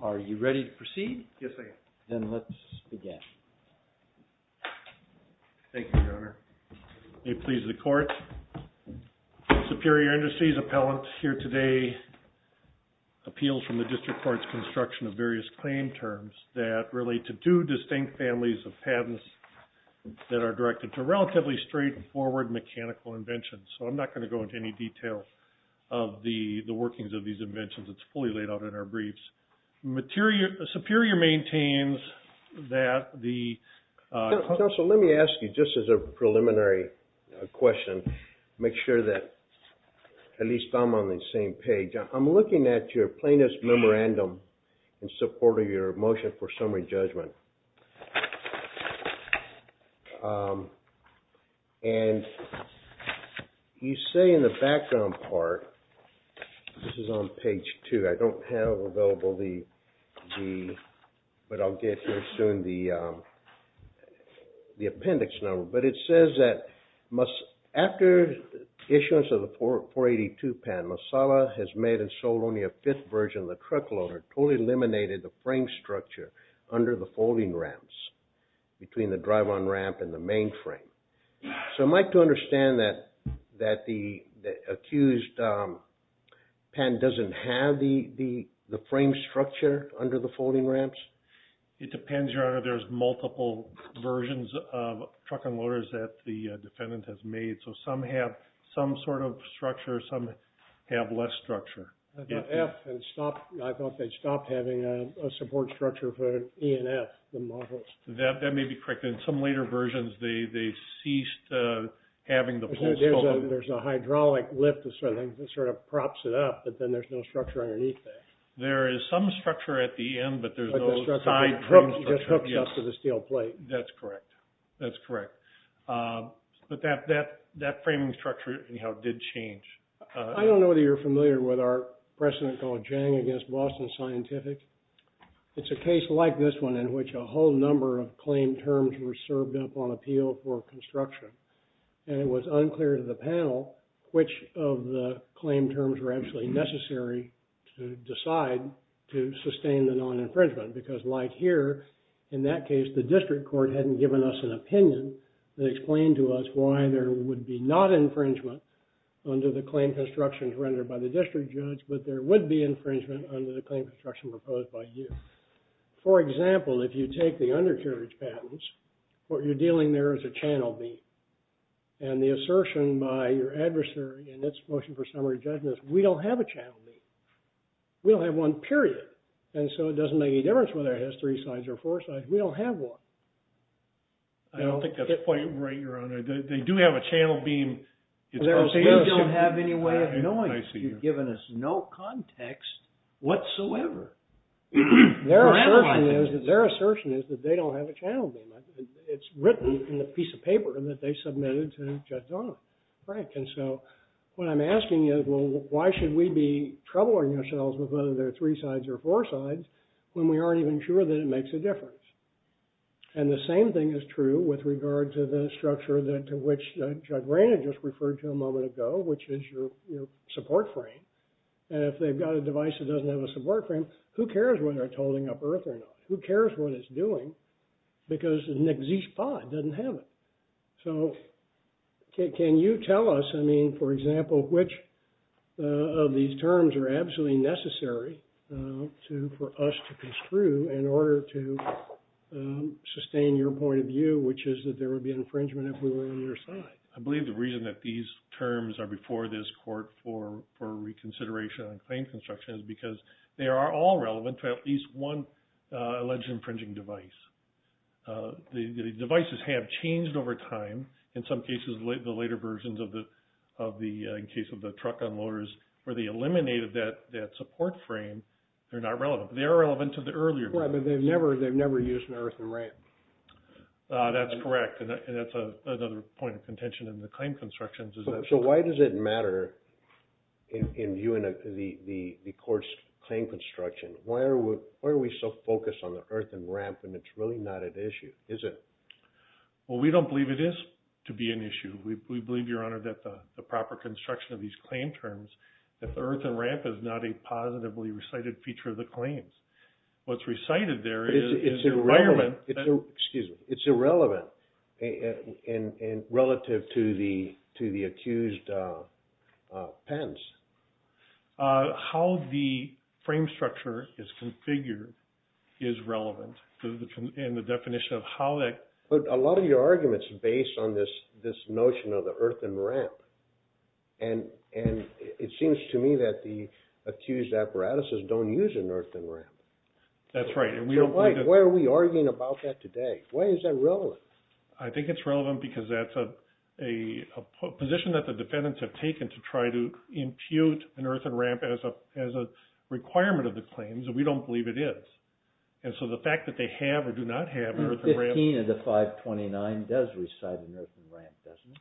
Are you ready to proceed? Yes, I am. Then let's begin. Thank you, Your Honor. May it please the Court. Superior Industries appellant here today appeals from the District Court's construction of various claim terms that relate to two distinct families of patents that are directed to relatively straightforward mechanical inventions. So I'm not going to go into any detail of the workings of these inventions. It's fully laid out in our briefs. Superior maintains that the... Counsel, let me ask you, just as a preliminary question, make sure that at least I'm on the same page. I'm looking at your plaintiff's memorandum in support of your motion for summary judgment. And you say in the background part, this is on page 2, I don't have available the... But I'll get here soon the appendix number. But it says that after issuance of the 482 pen, Masaba has made and sold only a fifth version of the truck loader, totally eliminated the frame structure under the folding ramps between the drive-on ramp and the main frame. So am I to understand that the accused pen doesn't have the frame structure under the folding ramps? It depends, Your Honor, there's multiple versions of truck and loaders that the defendant has made. So some have some sort of structure, some have less structure. I thought they stopped having a support structure for E and F, the models. That may be correct. In some later versions, they ceased having the... There's a hydraulic lift that sort of props it up, but then there's no structure underneath that. There is some structure at the end, but there's no side frame structure. But the structure just hooks up to the steel plate. That's correct. That's correct. But that framing structure, anyhow, did change. I don't know whether you're familiar with our precedent called Jang against Boston Scientific. It's a case like this one in which a whole number of claim terms were served up on appeal for construction. And it was unclear to the panel which of the claim terms were actually necessary to decide to sustain the non-infringement. Because like here, in that case, the district court hadn't given us an opinion that explained to us why there would be not infringement under the claim constructions rendered by the district judge, but there would be infringement under the claim construction proposed by you. For example, if you take the undercarriage patents, what you're dealing there is a channel beam. And the assertion by your adversary in its motion for summary judgment is, we don't have a channel beam. We don't have one, period. And so it doesn't make any difference whether it has three sides or four sides. We don't have one. I don't think that's quite right, Your Honor. They do have a channel beam. We don't have any way of knowing. You've given us no context whatsoever. Their assertion is that they don't have a channel beam. It's written in the piece of paper that they submitted to Judge Frank. And so what I'm asking is, well, why should we be troubling ourselves with whether there are three sides or four sides when we aren't even sure that it makes a difference? And the same thing is true with regard to the structure to which Judge Rayner just referred to a moment ago, which is your support frame. And if they've got a device that doesn't have a support frame, who cares whether it's holding up earth or not? Who cares what it's doing? Because an exist pod doesn't have it. So can you tell us, I mean, for example, which of these terms are absolutely necessary for us to construe in order to sustain your point of view, which is that there would be infringement if we were on your side? I believe the reason that these terms are before this court for reconsideration on claim construction is because they are all relevant to at least one alleged infringing device. The devices have changed over time. In some cases, the later versions, in the case of the truck unloaders, where they eliminated that support frame, they're not relevant. They are relevant to the earlier versions. Right, but they've never used an earthen ramp. That's correct, and that's another point of contention in the claim construction. So why does it matter in viewing the court's claim construction? Why are we so focused on the earthen ramp when it's really not at issue, is it? Well, we don't believe it is to be an issue. We believe, Your Honor, that the proper construction of these claim terms, that the earthen ramp is not a positively recited feature of the claims. What's recited there is the requirement. Excuse me. It's irrelevant relative to the accused patents. How the frame structure is configured is relevant in the definition of how that. But a lot of your argument is based on this notion of the earthen ramp. And it seems to me that the accused apparatuses don't use an earthen ramp. That's right. So why are we arguing about that today? Why is that relevant? I think it's relevant because that's a position that the defendants have taken to try to impute an earthen ramp as a requirement of the claims, and we don't believe it is. And so the fact that they have or do not have an earthen ramp. 15 of the 529 does recite an earthen ramp, doesn't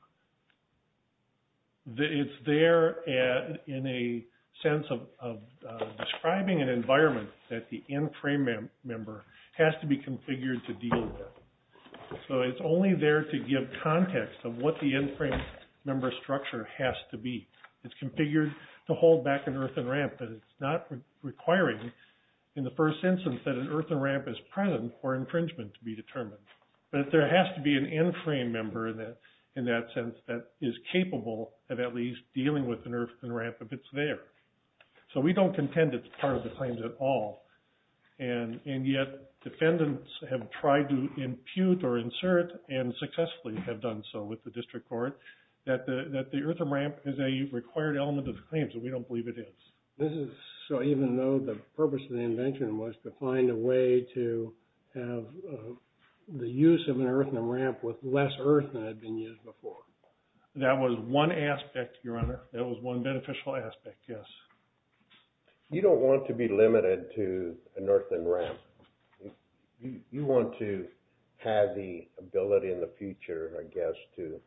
it? It's there in a sense of describing an environment that the in-frame member has to be configured to deal with. So it's only there to give context of what the in-frame member structure has to be. It's configured to hold back an earthen ramp, but it's not requiring in the first instance that an earthen ramp is present for infringement to be determined. But there has to be an in-frame member in that sense that is capable of at least dealing with an earthen ramp if it's there. So we don't contend it's part of the claims at all. And yet defendants have tried to impute or insert, and successfully have done so with the district court, that the earthen ramp is a required element of the claims, and we don't believe it is. This is so even though the purpose of the invention was to find a way to have the use of an earthen ramp with less earth than had been used before. That was one aspect, Your Honor. That was one beneficial aspect, yes. You don't want to be limited to an earthen ramp. You want to have the ability in the future, I guess, to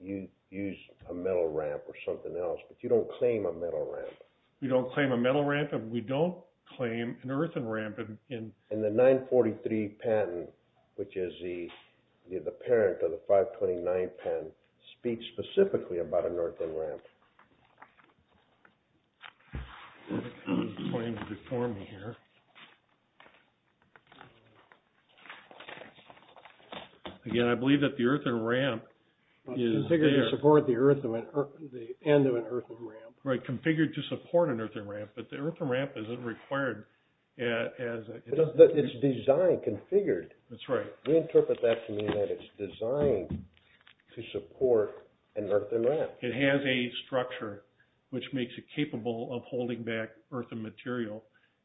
use a metal ramp or something else, but you don't claim a metal ramp. We don't claim a metal ramp, and we don't claim an earthen ramp. And the 943 patent, which is the parent of the 529 patent, speaks specifically about an earthen ramp. Again, I believe that the earthen ramp is there. Configured to support the end of an earthen ramp. Right, configured to support an earthen ramp, but the earthen ramp isn't required. It's designed, configured. That's right. Reinterpret that to mean that it's designed to support an earthen ramp. It has a structure which makes it capable of holding back earthen material.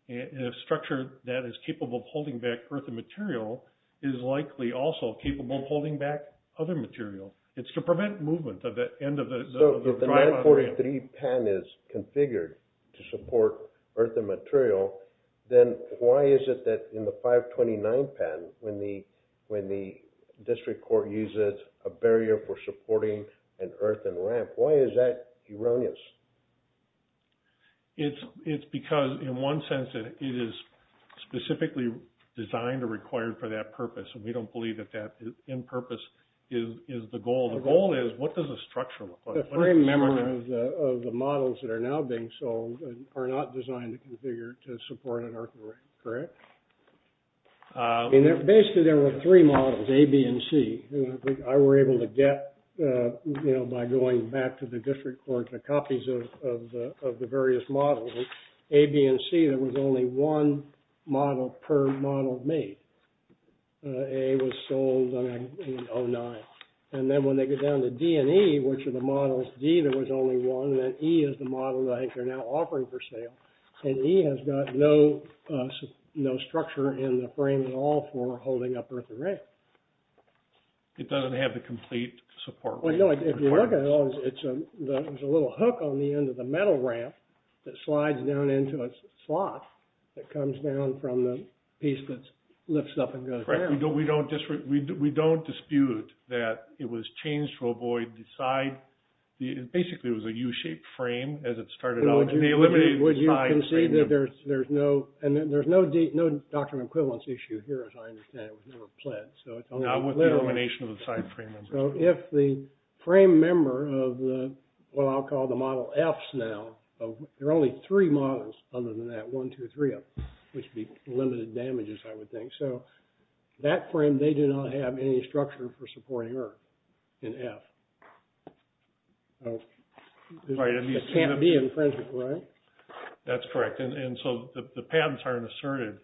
A structure that is capable of holding back earthen material is likely also capable of holding back other material. If the 943 patent is configured to support earthen material, then why is it that in the 529 patent, when the district court uses a barrier for supporting an earthen ramp, why is that erroneous? It's because, in one sense, it is specifically designed or required for that purpose, and we don't believe that that end purpose is the goal. The goal is, what does the structure look like? The frame member of the models that are now being sold are not designed to configure to support an earthen ramp, correct? Basically, there were three models, A, B, and C. I was able to get, by going back to the district court, the copies of the various models. A, B, and C, there was only one model per model made. A was sold in 1909. And then when they get down to D and E, which are the models, D there was only one, and then E is the model that I think they're now offering for sale. And E has got no structure in the frame at all for holding up earthen ramp. It doesn't have the complete support. Well, no, if you look at it, there's a little hook on the end of the metal ramp that slides down into a slot that comes down from the piece that lifts up and goes down. We don't dispute that it was changed to avoid the side. Basically, it was a U-shaped frame as it started out. Would you concede that there's no doctrine of equivalence issue here, as I understand it? It was never planned. Not with the elimination of the side frame. So if the frame member of what I'll call the model Fs now, there are only three models other than that, one, two, three, which would be limited damages, I would think. So that frame, they do not have any structure for supporting earth in F. So it can't be in principle, right? That's correct. And so the pads aren't assertive.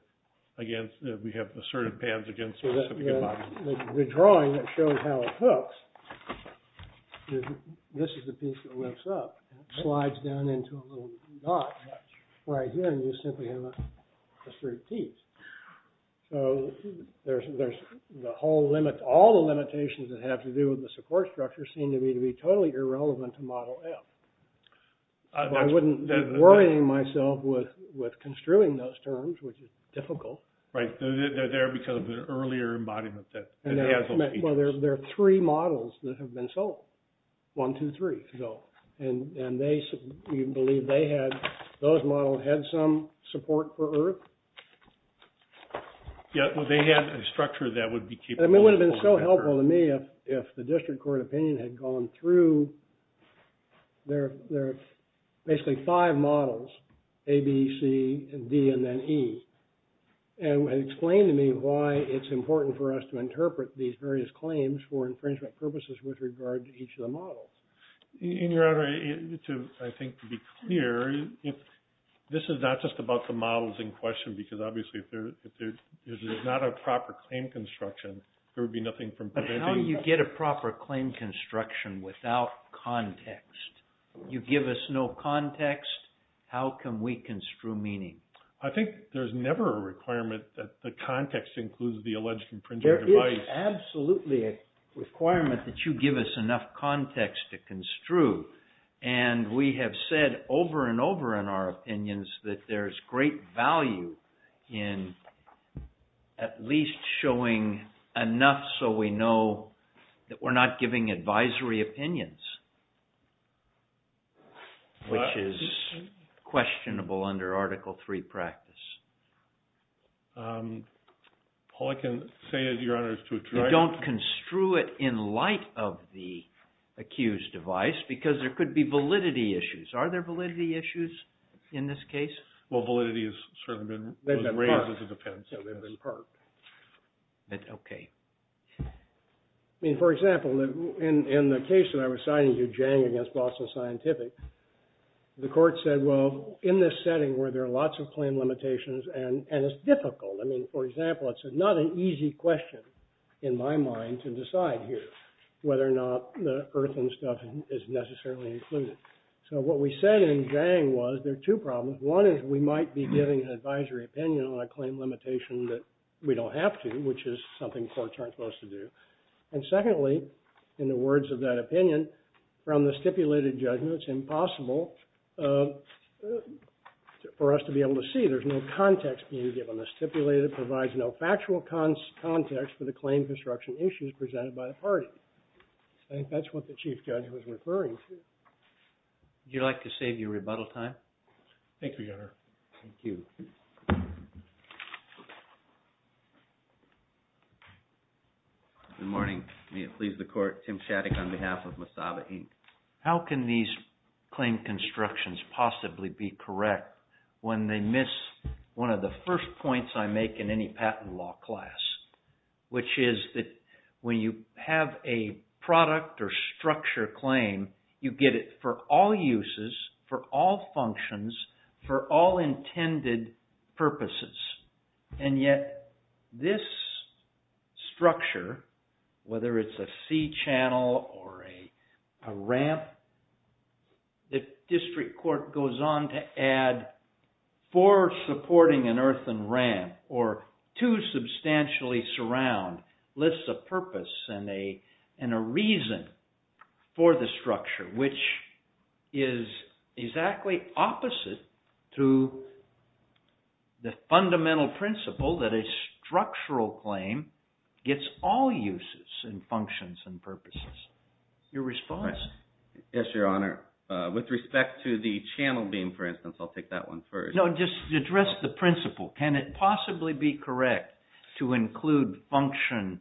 Again, we have assertive pads against specific models. The drawing that shows how it hooks, this is the piece that lifts up, slides down into a little dot right here, and you simply have a straight piece. So all the limitations that have to do with the support structure seem to me to be totally irrelevant to model F. I wouldn't be worrying myself with construing those terms, which is difficult. Right. They're there because of the earlier embodiment that has those features. Well, there are three models that have been sold, one, two, three. And you believe those models had some support for earth? Yeah, well, they had a structure that would be capable of supporting earth. It would have been so helpful to me if the district court opinion had gone through basically five models, A, B, C, D, and then E, and explained to me why it's important for us to interpret these various claims for infringement purposes with regard to each of the models. Your Honor, I think to be clear, this is not just about the models in question, because obviously if there's not a proper claim construction, there would be nothing from preventing... But how do you get a proper claim construction without context? You give us no context, how can we construe meaning? I think there's never a requirement that the context includes the alleged infringement device. There's absolutely a requirement that you give us enough context to construe. And we have said over and over in our opinions that there's great value in at least showing enough so we know that we're not giving advisory opinions, which is questionable under Article III practice. All I can say is, Your Honor, is to try... You don't construe it in light of the accused device, because there could be validity issues. Are there validity issues in this case? Well, validity has sort of been raised as a defense. They've been parked. Okay. I mean, for example, in the case that I was signing to Jiang against Boston Scientific, the court said, well, in this setting where there are lots of claim limitations and it's difficult. I mean, for example, it's not an easy question in my mind to decide here whether or not the earth and stuff is necessarily included. So what we said in Jiang was there are two problems. One is we might be giving an advisory opinion on a claim limitation that we don't have to, which is something courts aren't supposed to do. And secondly, in the words of that opinion, from the stipulated judgment, it's impossible for us to be able to see. There's no context being given. The stipulated provides no factual context for the claim construction issues presented by the party. I think that's what the chief judge was referring to. Would you like to save your rebuttal time? Thank you, Your Honor. Thank you. Good morning. May it please the court. Tim Shattuck on behalf of Masaba, Inc. How can these claim constructions possibly be correct when they miss one of the first points I make in any patent law class, which is that when you have a product or structure claim, you get it for all uses, for all functions, for all intended purposes. And yet this structure, whether it's a sea channel or a ramp, the district court goes on to add, for supporting an earthen ramp or to substantially surround, lists a purpose and a reason for the structure, which is exactly opposite to the fundamental principle that a structural claim gets all uses and functions and purposes. Your response? Yes, Your Honor. With respect to the channel beam, for instance, I'll take that one first. No, just address the principle. Can it possibly be correct to include function,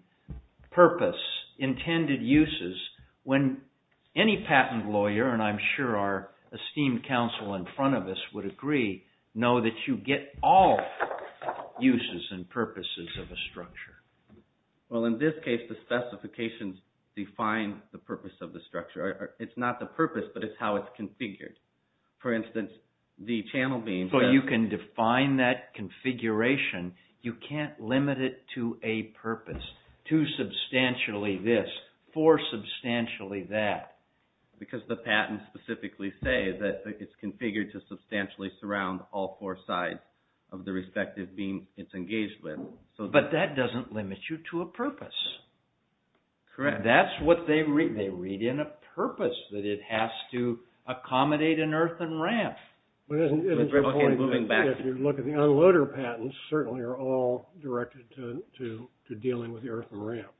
purpose, intended uses when any patent lawyer, and I'm sure our esteemed counsel in front of us would agree, know that you get all uses and purposes of a structure? Well, in this case, the specifications define the purpose of the structure. It's not the purpose, but it's how it's configured. For instance, the channel beam. So you can define that configuration. You can't limit it to a purpose, to substantially this, for substantially that. Because the patents specifically say that it's configured to substantially surround all four sides of the respective beam it's engaged with. But that doesn't limit you to a purpose. Correct. That's what they read. They read in a purpose that it has to accommodate an earthen ramp. Okay, moving back. If you look at the unloader patents, certainly are all directed to dealing with the earthen ramp.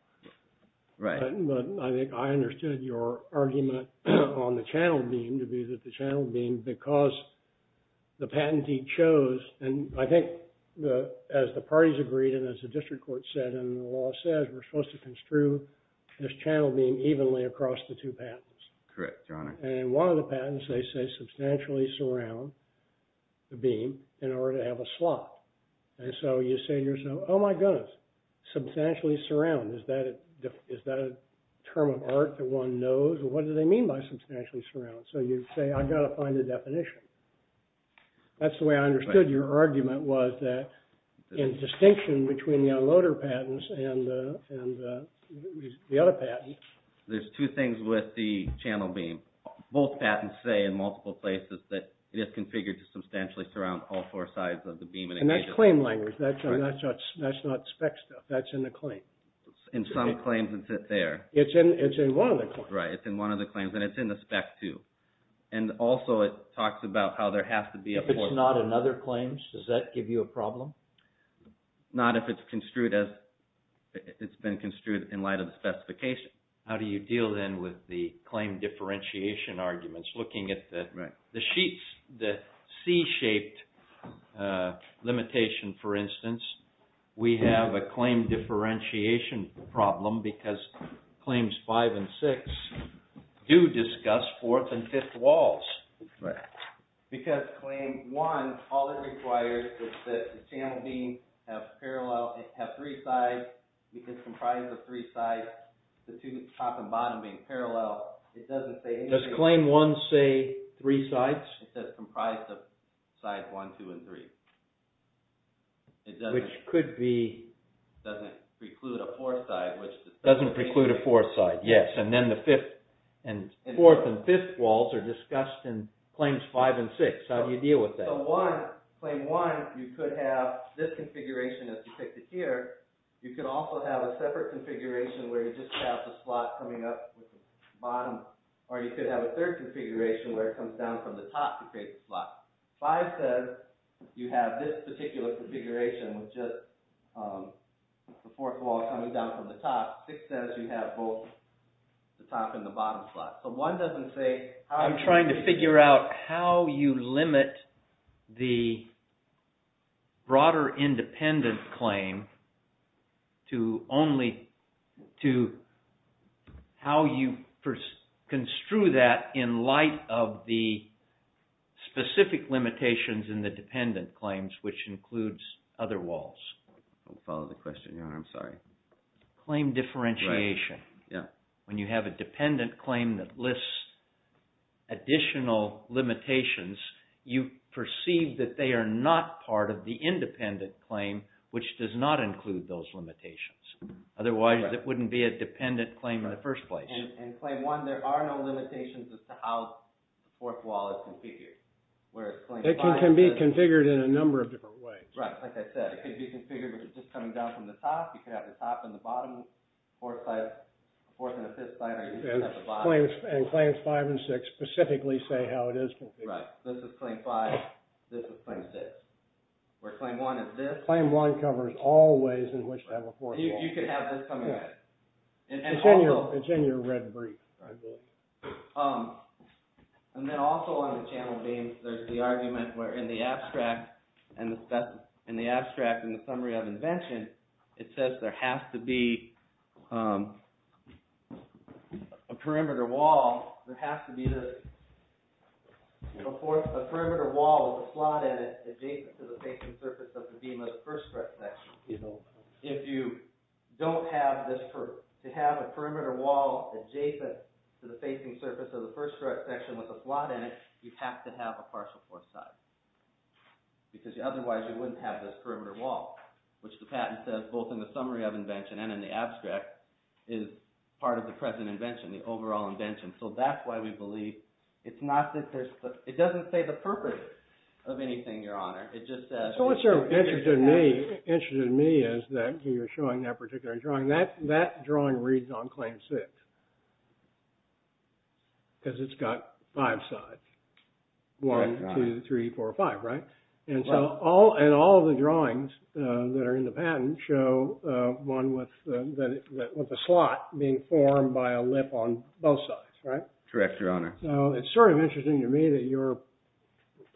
Right. But I think I understood your argument on the channel beam to be that the channel beam, because the patentee chose, and I think as the parties agreed and as the district court said and the law says, we're supposed to construe this channel beam evenly across the two patents. Correct, Your Honor. And in one of the patents they say substantially surround the beam in order to have a slot. And so you say to yourself, oh my goodness, substantially surround. Is that a term of art that one knows? What do they mean by substantially surround? So you say I've got to find a definition. That's the way I understood your argument was that in distinction between the unloader patents and the other patent. There's two things with the channel beam. Both patents say in multiple places that it is configured to substantially surround all four sides of the beam. And that's claim language. That's not spec stuff. That's in the claim. In some claims it's there. It's in one of the claims. Right, it's in one of the claims. And it's in the spec too. And also it talks about how there has to be a point. If it's not in other claims, does that give you a problem? Not if it's construed as it's been construed in light of the specification. How do you deal then with the claim differentiation arguments? Looking at the sheets, the C-shaped limitation, for instance. We have a claim differentiation problem because claims five and six do discuss fourth and fifth walls. Because claim one, all it requires is that the channel beam have three sides. It's comprised of three sides. The two top and bottom being parallel, it doesn't say anything. Does claim one say three sides? It says comprised of sides one, two, and three. Which could be... Doesn't preclude a fourth side. Doesn't preclude a fourth side, yes. And then the fourth and fifth walls are discussed in claims five and six. How do you deal with that? So one, claim one, you could have this configuration as depicted here. You could also have a separate configuration where you just have the slot coming up with the bottom. Or you could have a third configuration where it comes down from the top to create the slot. Five says you have this particular configuration with just the fourth wall coming down from the top. Six says you have both the top and the bottom slot. So one doesn't say... I'm trying to figure out how you limit the broader independent claim to only... to how you construe that in light of the specific limitations in the dependent claims, which includes other walls. Don't follow the question, Your Honor. I'm sorry. Claim differentiation. When you have a dependent claim that lists additional limitations, you perceive that they are not part of the independent claim, which does not include those limitations. Otherwise, it wouldn't be a dependent claim in the first place. In claim one, there are no limitations as to how the fourth wall is configured. It can be configured in a number of different ways. Right. Like I said, it could be configured with it just coming down from the top. You could have the top and the bottom four sides. The fourth and the fifth side are usually at the bottom. And claims five and six specifically say how it is configured. Right. This is claim five. This is claim six. Where claim one is this. Claim one covers all ways in which to have a fourth wall. You can have this coming at it. It's in your red brief. And then also on the channel beams, there's the argument where in the abstract, in the summary of invention, it says there has to be a perimeter wall. There has to be a perimeter wall with a slot at it adjacent to the facing surface of the beam of the first section. If you don't have a perimeter wall adjacent to the facing surface of the first section with a slot in it, you have to have a partial fourth side. Because otherwise you wouldn't have this perimeter wall, which the patent says both in the summary of invention and in the abstract, is part of the present invention, the overall invention. So that's why we believe it doesn't say the purpose of anything, Your Honor. So what's sort of interesting to me is that you're showing that particular drawing. That drawing reads on claim six. Because it's got five sides. One, two, three, four, five, right? And so all of the drawings that are in the patent show one with a slot being formed by a lip on both sides, right? Correct, Your Honor. So it's sort of interesting to me that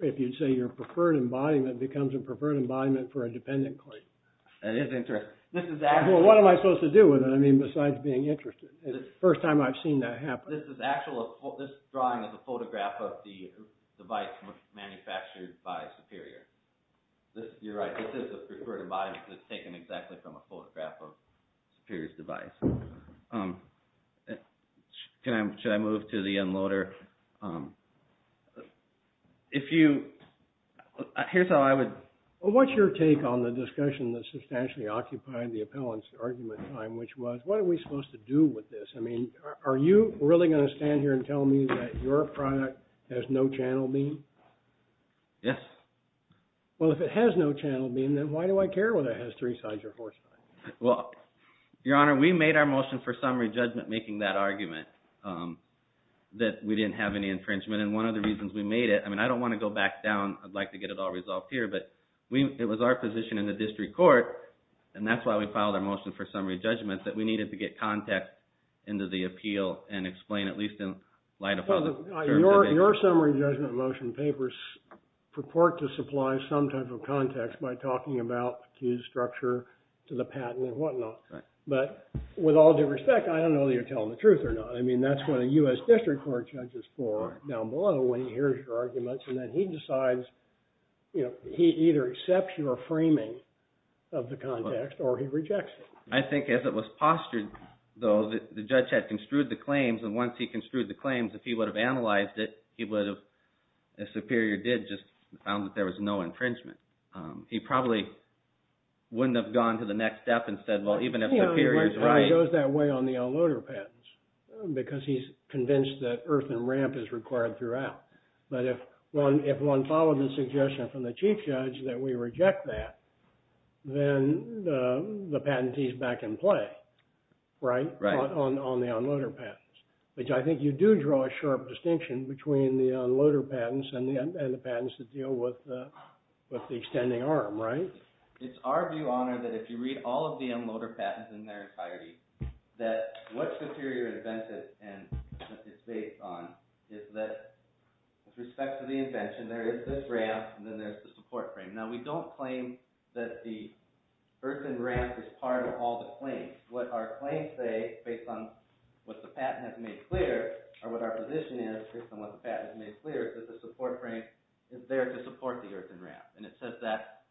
if you say your preferred embodiment becomes a preferred embodiment for a dependent claim. That is interesting. Well, what am I supposed to do with it? I mean, besides being interested. It's the first time I've seen that happen. This drawing is a photograph of the device manufactured by Superior. You're right. This is a preferred embodiment that's taken exactly from a photograph of Superior's device. Should I move to the unloader? If you... Here's how I would... Well, what's your take on the discussion that substantially occupied the appellant's argument time, which was, what are we supposed to do with this? I mean, are you really going to stand here and tell me that your product has no channel beam? Yes. Well, if it has no channel beam, then why do I care whether it has three sides or four sides? Well, Your Honor, we made our motion for summary judgment making that argument that we didn't have any infringement. And one of the reasons we made it... I mean, I don't want to go back down. I'd like to get it all resolved here. But it was our position in the district court, and that's why we filed a motion for summary judgment, that we needed to get context into the appeal and explain, at least in light of... Your summary judgment motion papers purport to supply some type of context by talking about the accused's structure to the patent and whatnot. Right. But with all due respect, I don't know whether you're telling the truth or not. I mean, that's what a U.S. district court judge is for down below when he hears your arguments, and then he decides, you know, he either accepts your framing of the context or he rejects it. I think as it was postured, though, the judge had construed the claims, and once he construed the claims, if he would have analyzed it, he would have, as Superior did, just found that there was no infringement. He probably wouldn't have gone to the next step and said, well, even if Superior's right... Because he's convinced that earth and ramp is required throughout. But if one followed the suggestion from the chief judge that we reject that, then the patentee's back in play, right? Right. On the unloader patents, which I think you do draw a sharp distinction between the unloader patents and the patents that deal with the extending arm, right? It's our view, Honor, that if you read all of the unloader patents in their entirety, that what Superior invented and is based on is that with respect to the invention, there is this ramp, and then there's the support frame. Now, we don't claim that the earth and ramp is part of all the claims. What our claims say, based on what the patent has made clear, or what our position is, based on what the patent has made clear, is that the support frame is there to support the earth and ramp. And it says that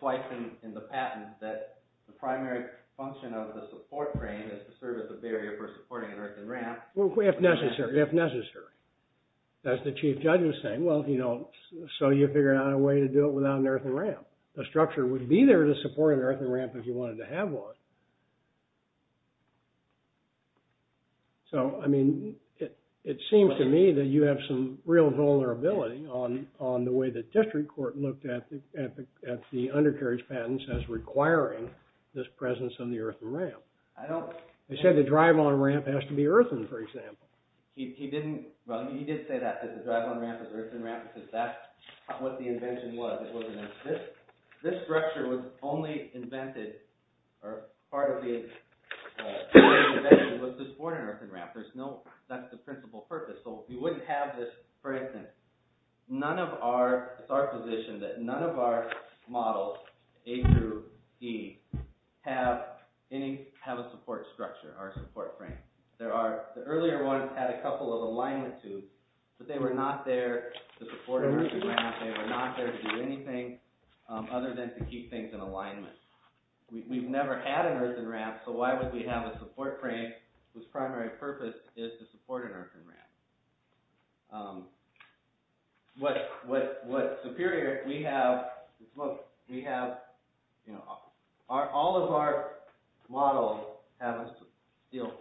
twice in the patent, that the primary function of the support frame is to serve as a barrier for supporting an earth and ramp. Well, if necessary. If necessary. As the chief judge was saying, well, so you figure out a way to do it without an earth and ramp. The structure would be there to support an earth and ramp if you wanted to have one. So, I mean, it seems to me that you have some real vulnerability on the way the district court looked at the undercarriage patents as requiring this presence on the earth and ramp. They said the drive-on ramp has to be earthen, for example. He did say that, that the drive-on ramp is earthen ramp, because that's what the invention was. This structure was only invented, or part of the invention, was to support an earthen ramp. There's no, that's the principal purpose. So, we wouldn't have this, for instance, none of our, it's our position, that none of our models, A through E, have a support structure, or a support frame. There are, the earlier ones had a couple of alignment tubes, but they were not there to support an earthen ramp. They were not there to do anything other than to keep things in alignment. We've never had an earthen ramp, so why would we have a support frame whose primary purpose is to support an earthen ramp? What Superior, we have, all of our models have a steel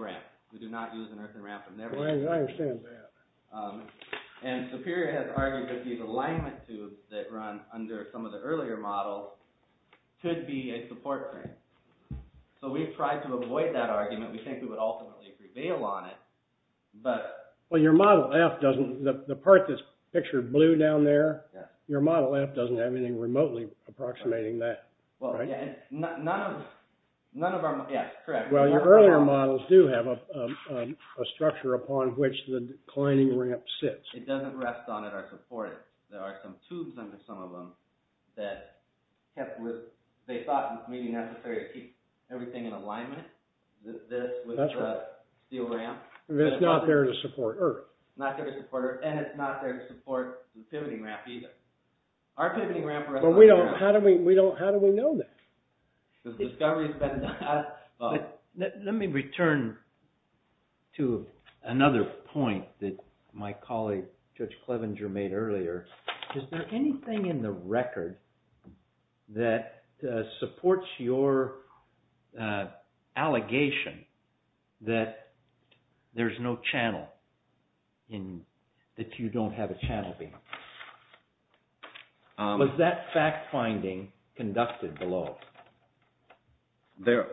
ramp. We do not use an earthen ramp. I understand that. Superior has argued that these alignment tubes that run under some of the earlier models could be a support frame. So, we've tried to avoid that argument. We think we would ultimately prevail on it, but... Well, your model F doesn't, the part that's pictured blue down there, your model F doesn't have anything remotely approximating that. Well, yeah, none of our, yeah, correct. Well, your earlier models do have a structure upon which the declining ramp sits. It doesn't rest on it or support it. There are some tubes under some of them that kept with, they thought it was maybe necessary to keep everything in alignment. That's right. With the steel ramp. It's not there to support earth. Not there to support earth, and it's not there to support the pivoting ramp either. Our pivoting ramp... But we don't, how do we, we don't, how do we know that? Let me return to another point that my colleague, Judge Clevenger, made earlier. Is there anything in the record that supports your allegation that there's no channel, that you don't have a channel beam? Was that fact-finding conducted below? There...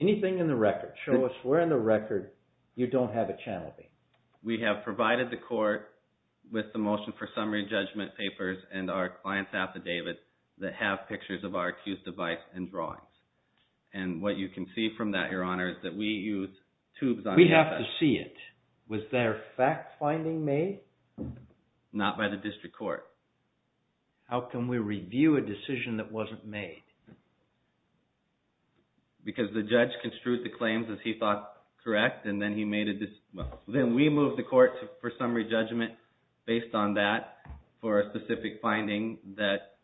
Anything in the record? Show us where in the record you don't have a channel beam. We have provided the court with the motion for summary judgment papers and our client's affidavit that have pictures of our accused device and drawings. And what you can see from that, your honor, is that we used tubes on behalf of... We have to see it. Was there fact-finding made? Not by the district court. How can we review a decision that wasn't made? Because the judge construed the claims as he thought correct, and then he made a... Then we moved the court for summary judgment based on that for a specific finding that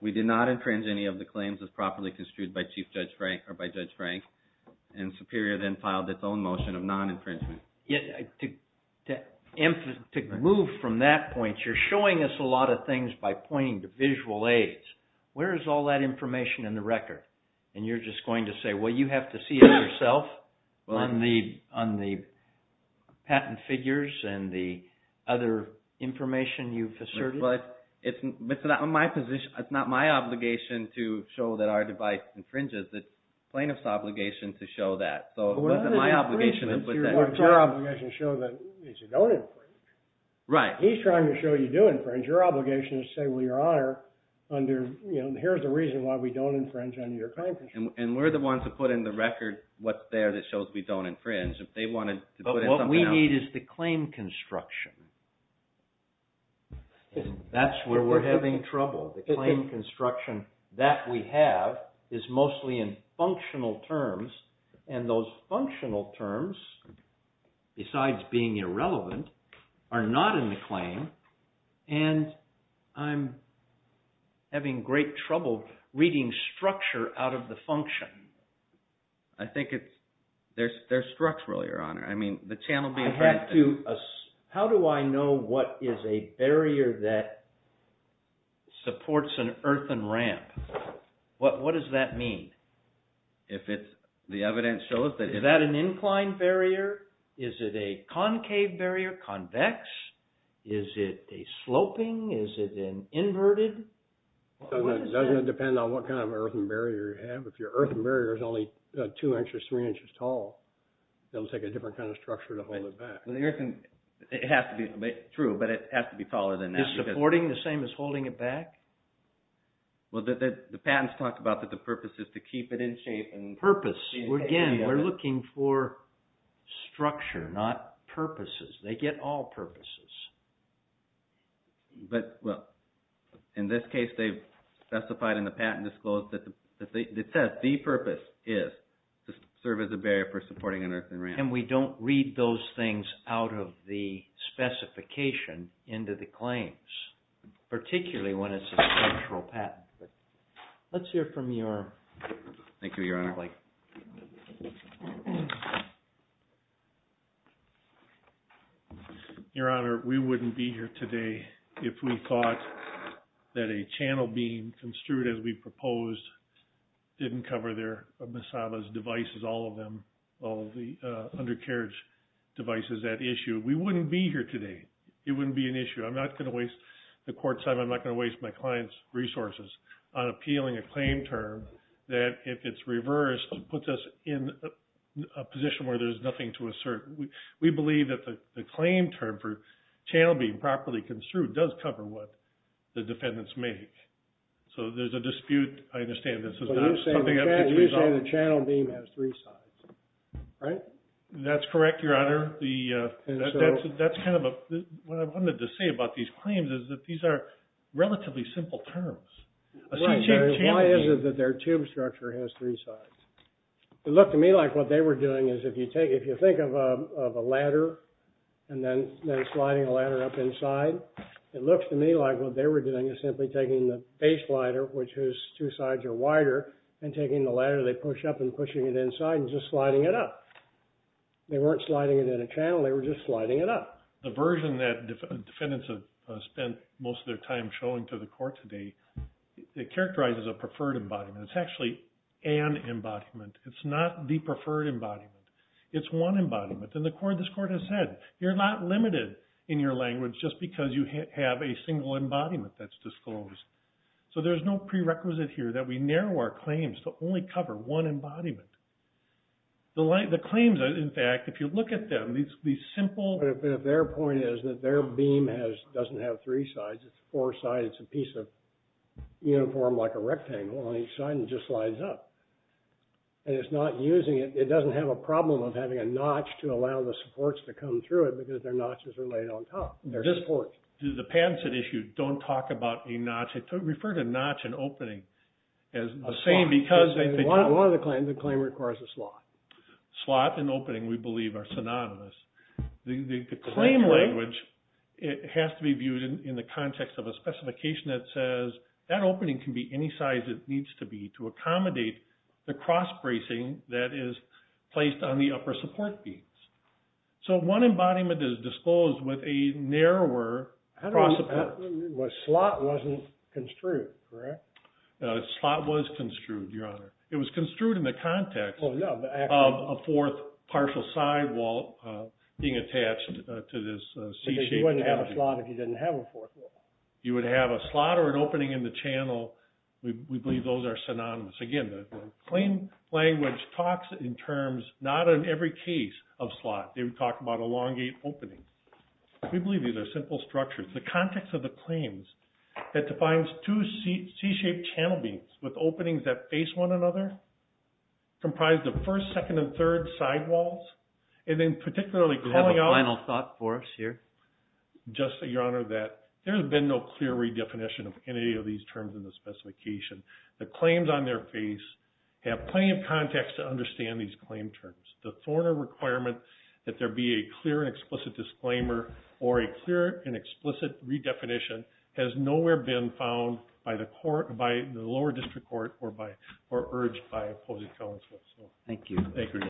we did not infringe any of the claims as properly construed by Chief Judge Frank, or by Judge Frank. And Superior then filed its own motion of non-infringement. To move from that point, you're showing us a lot of things by pointing to visual aids. Where is all that information in the record? And you're just going to say, well, you have to see it yourself on the patent figures and the other information you've asserted? But it's not my position. It's not my obligation to show that our device infringes. It's plaintiff's obligation to show that. Your obligation is to show that we don't infringe. Right. He's trying to show you do infringe. Your obligation is to say, well, Your Honor, here's the reason why we don't infringe on your claim construction. And we're the ones who put in the record what's there that shows we don't infringe. But what we need is the claim construction. That's where we're having trouble. The claim construction that we have is mostly in functional terms. And those functional terms, besides being irrelevant, are not in the claim. And I'm having great trouble reading structure out of the function. I think it's – they're structural, Your Honor. I mean, the channel being – How do I know what is a barrier that supports an earthen ramp? What does that mean? If it's – the evidence shows that – Is that an inclined barrier? Is it a concave barrier, convex? Is it a sloping? Is it an inverted? It doesn't depend on what kind of earthen barrier you have. If your earthen barrier is only two inches, three inches tall, it'll take a different kind of structure to hold it back. It has to be true, but it has to be taller than that. Is supporting the same as holding it back? Well, the patents talk about that the purpose is to keep it in shape. Purpose. Again, we're looking for structure, not purposes. They get all purposes. But, well, in this case, they've specified in the patent disclose that it says the purpose is to serve as a barrier for supporting an earthen ramp. And we don't read those things out of the specification into the claims, particularly when it's a structural patent. Let's hear from your colleague. Thank you, Your Honor. Your Honor, we wouldn't be here today if we thought that a channel beam construed as we proposed didn't cover their Masada's devices, all of them, all of the undercarriage devices, that issue. We wouldn't be here today. It wouldn't be an issue. I'm not going to waste the court's time. I'm not going to waste my client's resources on appealing a claim term that, if it's reversed, puts us in a position where there's nothing to assert. We believe that the claim term for channel beam properly construed does cover what the defendants make. So there's a dispute. I understand this. But you're saying the channel beam has three sides, right? That's correct, Your Honor. What I wanted to say about these claims is that these are relatively simple terms. Why is it that their tube structure has three sides? It looked to me like what they were doing is, if you think of a ladder and then sliding a ladder up inside, it looks to me like what they were doing is simply taking the base ladder, which has two sides or wider, and taking the ladder, they push up and pushing it inside and just sliding it up. They weren't sliding it in a channel. They were just sliding it up. The version that defendants have spent most of their time showing to the court today, it characterizes a preferred embodiment. It's actually an embodiment. It's not the preferred embodiment. It's one embodiment. And this court has said, you're not limited in your language just because you have a single embodiment that's disclosed. So there's no prerequisite here that we narrow our claims to only cover one embodiment. The claims, in fact, if you look at them, these simple- But their point is that their beam doesn't have three sides. It's four sides. It's a piece of uniform, like a rectangle on each side, and it just slides up. And it's not using it. It doesn't have a problem of having a notch to allow the supports to come through it because their notches are laid on top. They're just ports. The patents that issue don't talk about a notch. They refer to notch and opening as the same because- One of the claims, the claim requires a slot. Slot and opening, we believe, are synonymous. The claim language has to be viewed in the context of a specification that says, that opening can be any size it needs to be to accommodate the cross-bracing that is placed on the upper support beams. So one embodiment is disclosed with a narrower cross-support. The slot wasn't construed, correct? The slot was construed, Your Honor. It was construed in the context of a fourth partial sidewall being attached to this C-shaped- Because you wouldn't have a slot if you didn't have a fourth wall. You would have a slot or an opening in the channel. We believe those are synonymous. Again, the claim language talks in terms, not in every case, of slot. They would talk about elongate opening. We believe these are simple structures. The context of the claims that defines two C-shaped channel beams with openings that face one another, comprise the first, second, and third sidewalls, and then particularly- Do you have a final thought for us here? Just that, Your Honor, that there's been no clear redefinition of any of these terms in the specification. The claims on their face have plenty of context to understand these claim terms. The Thorner requirement that there be a clear and explicit disclaimer or a clear and explicit redefinition has nowhere been found by the lower district court or urged by opposing counsel. Thank you.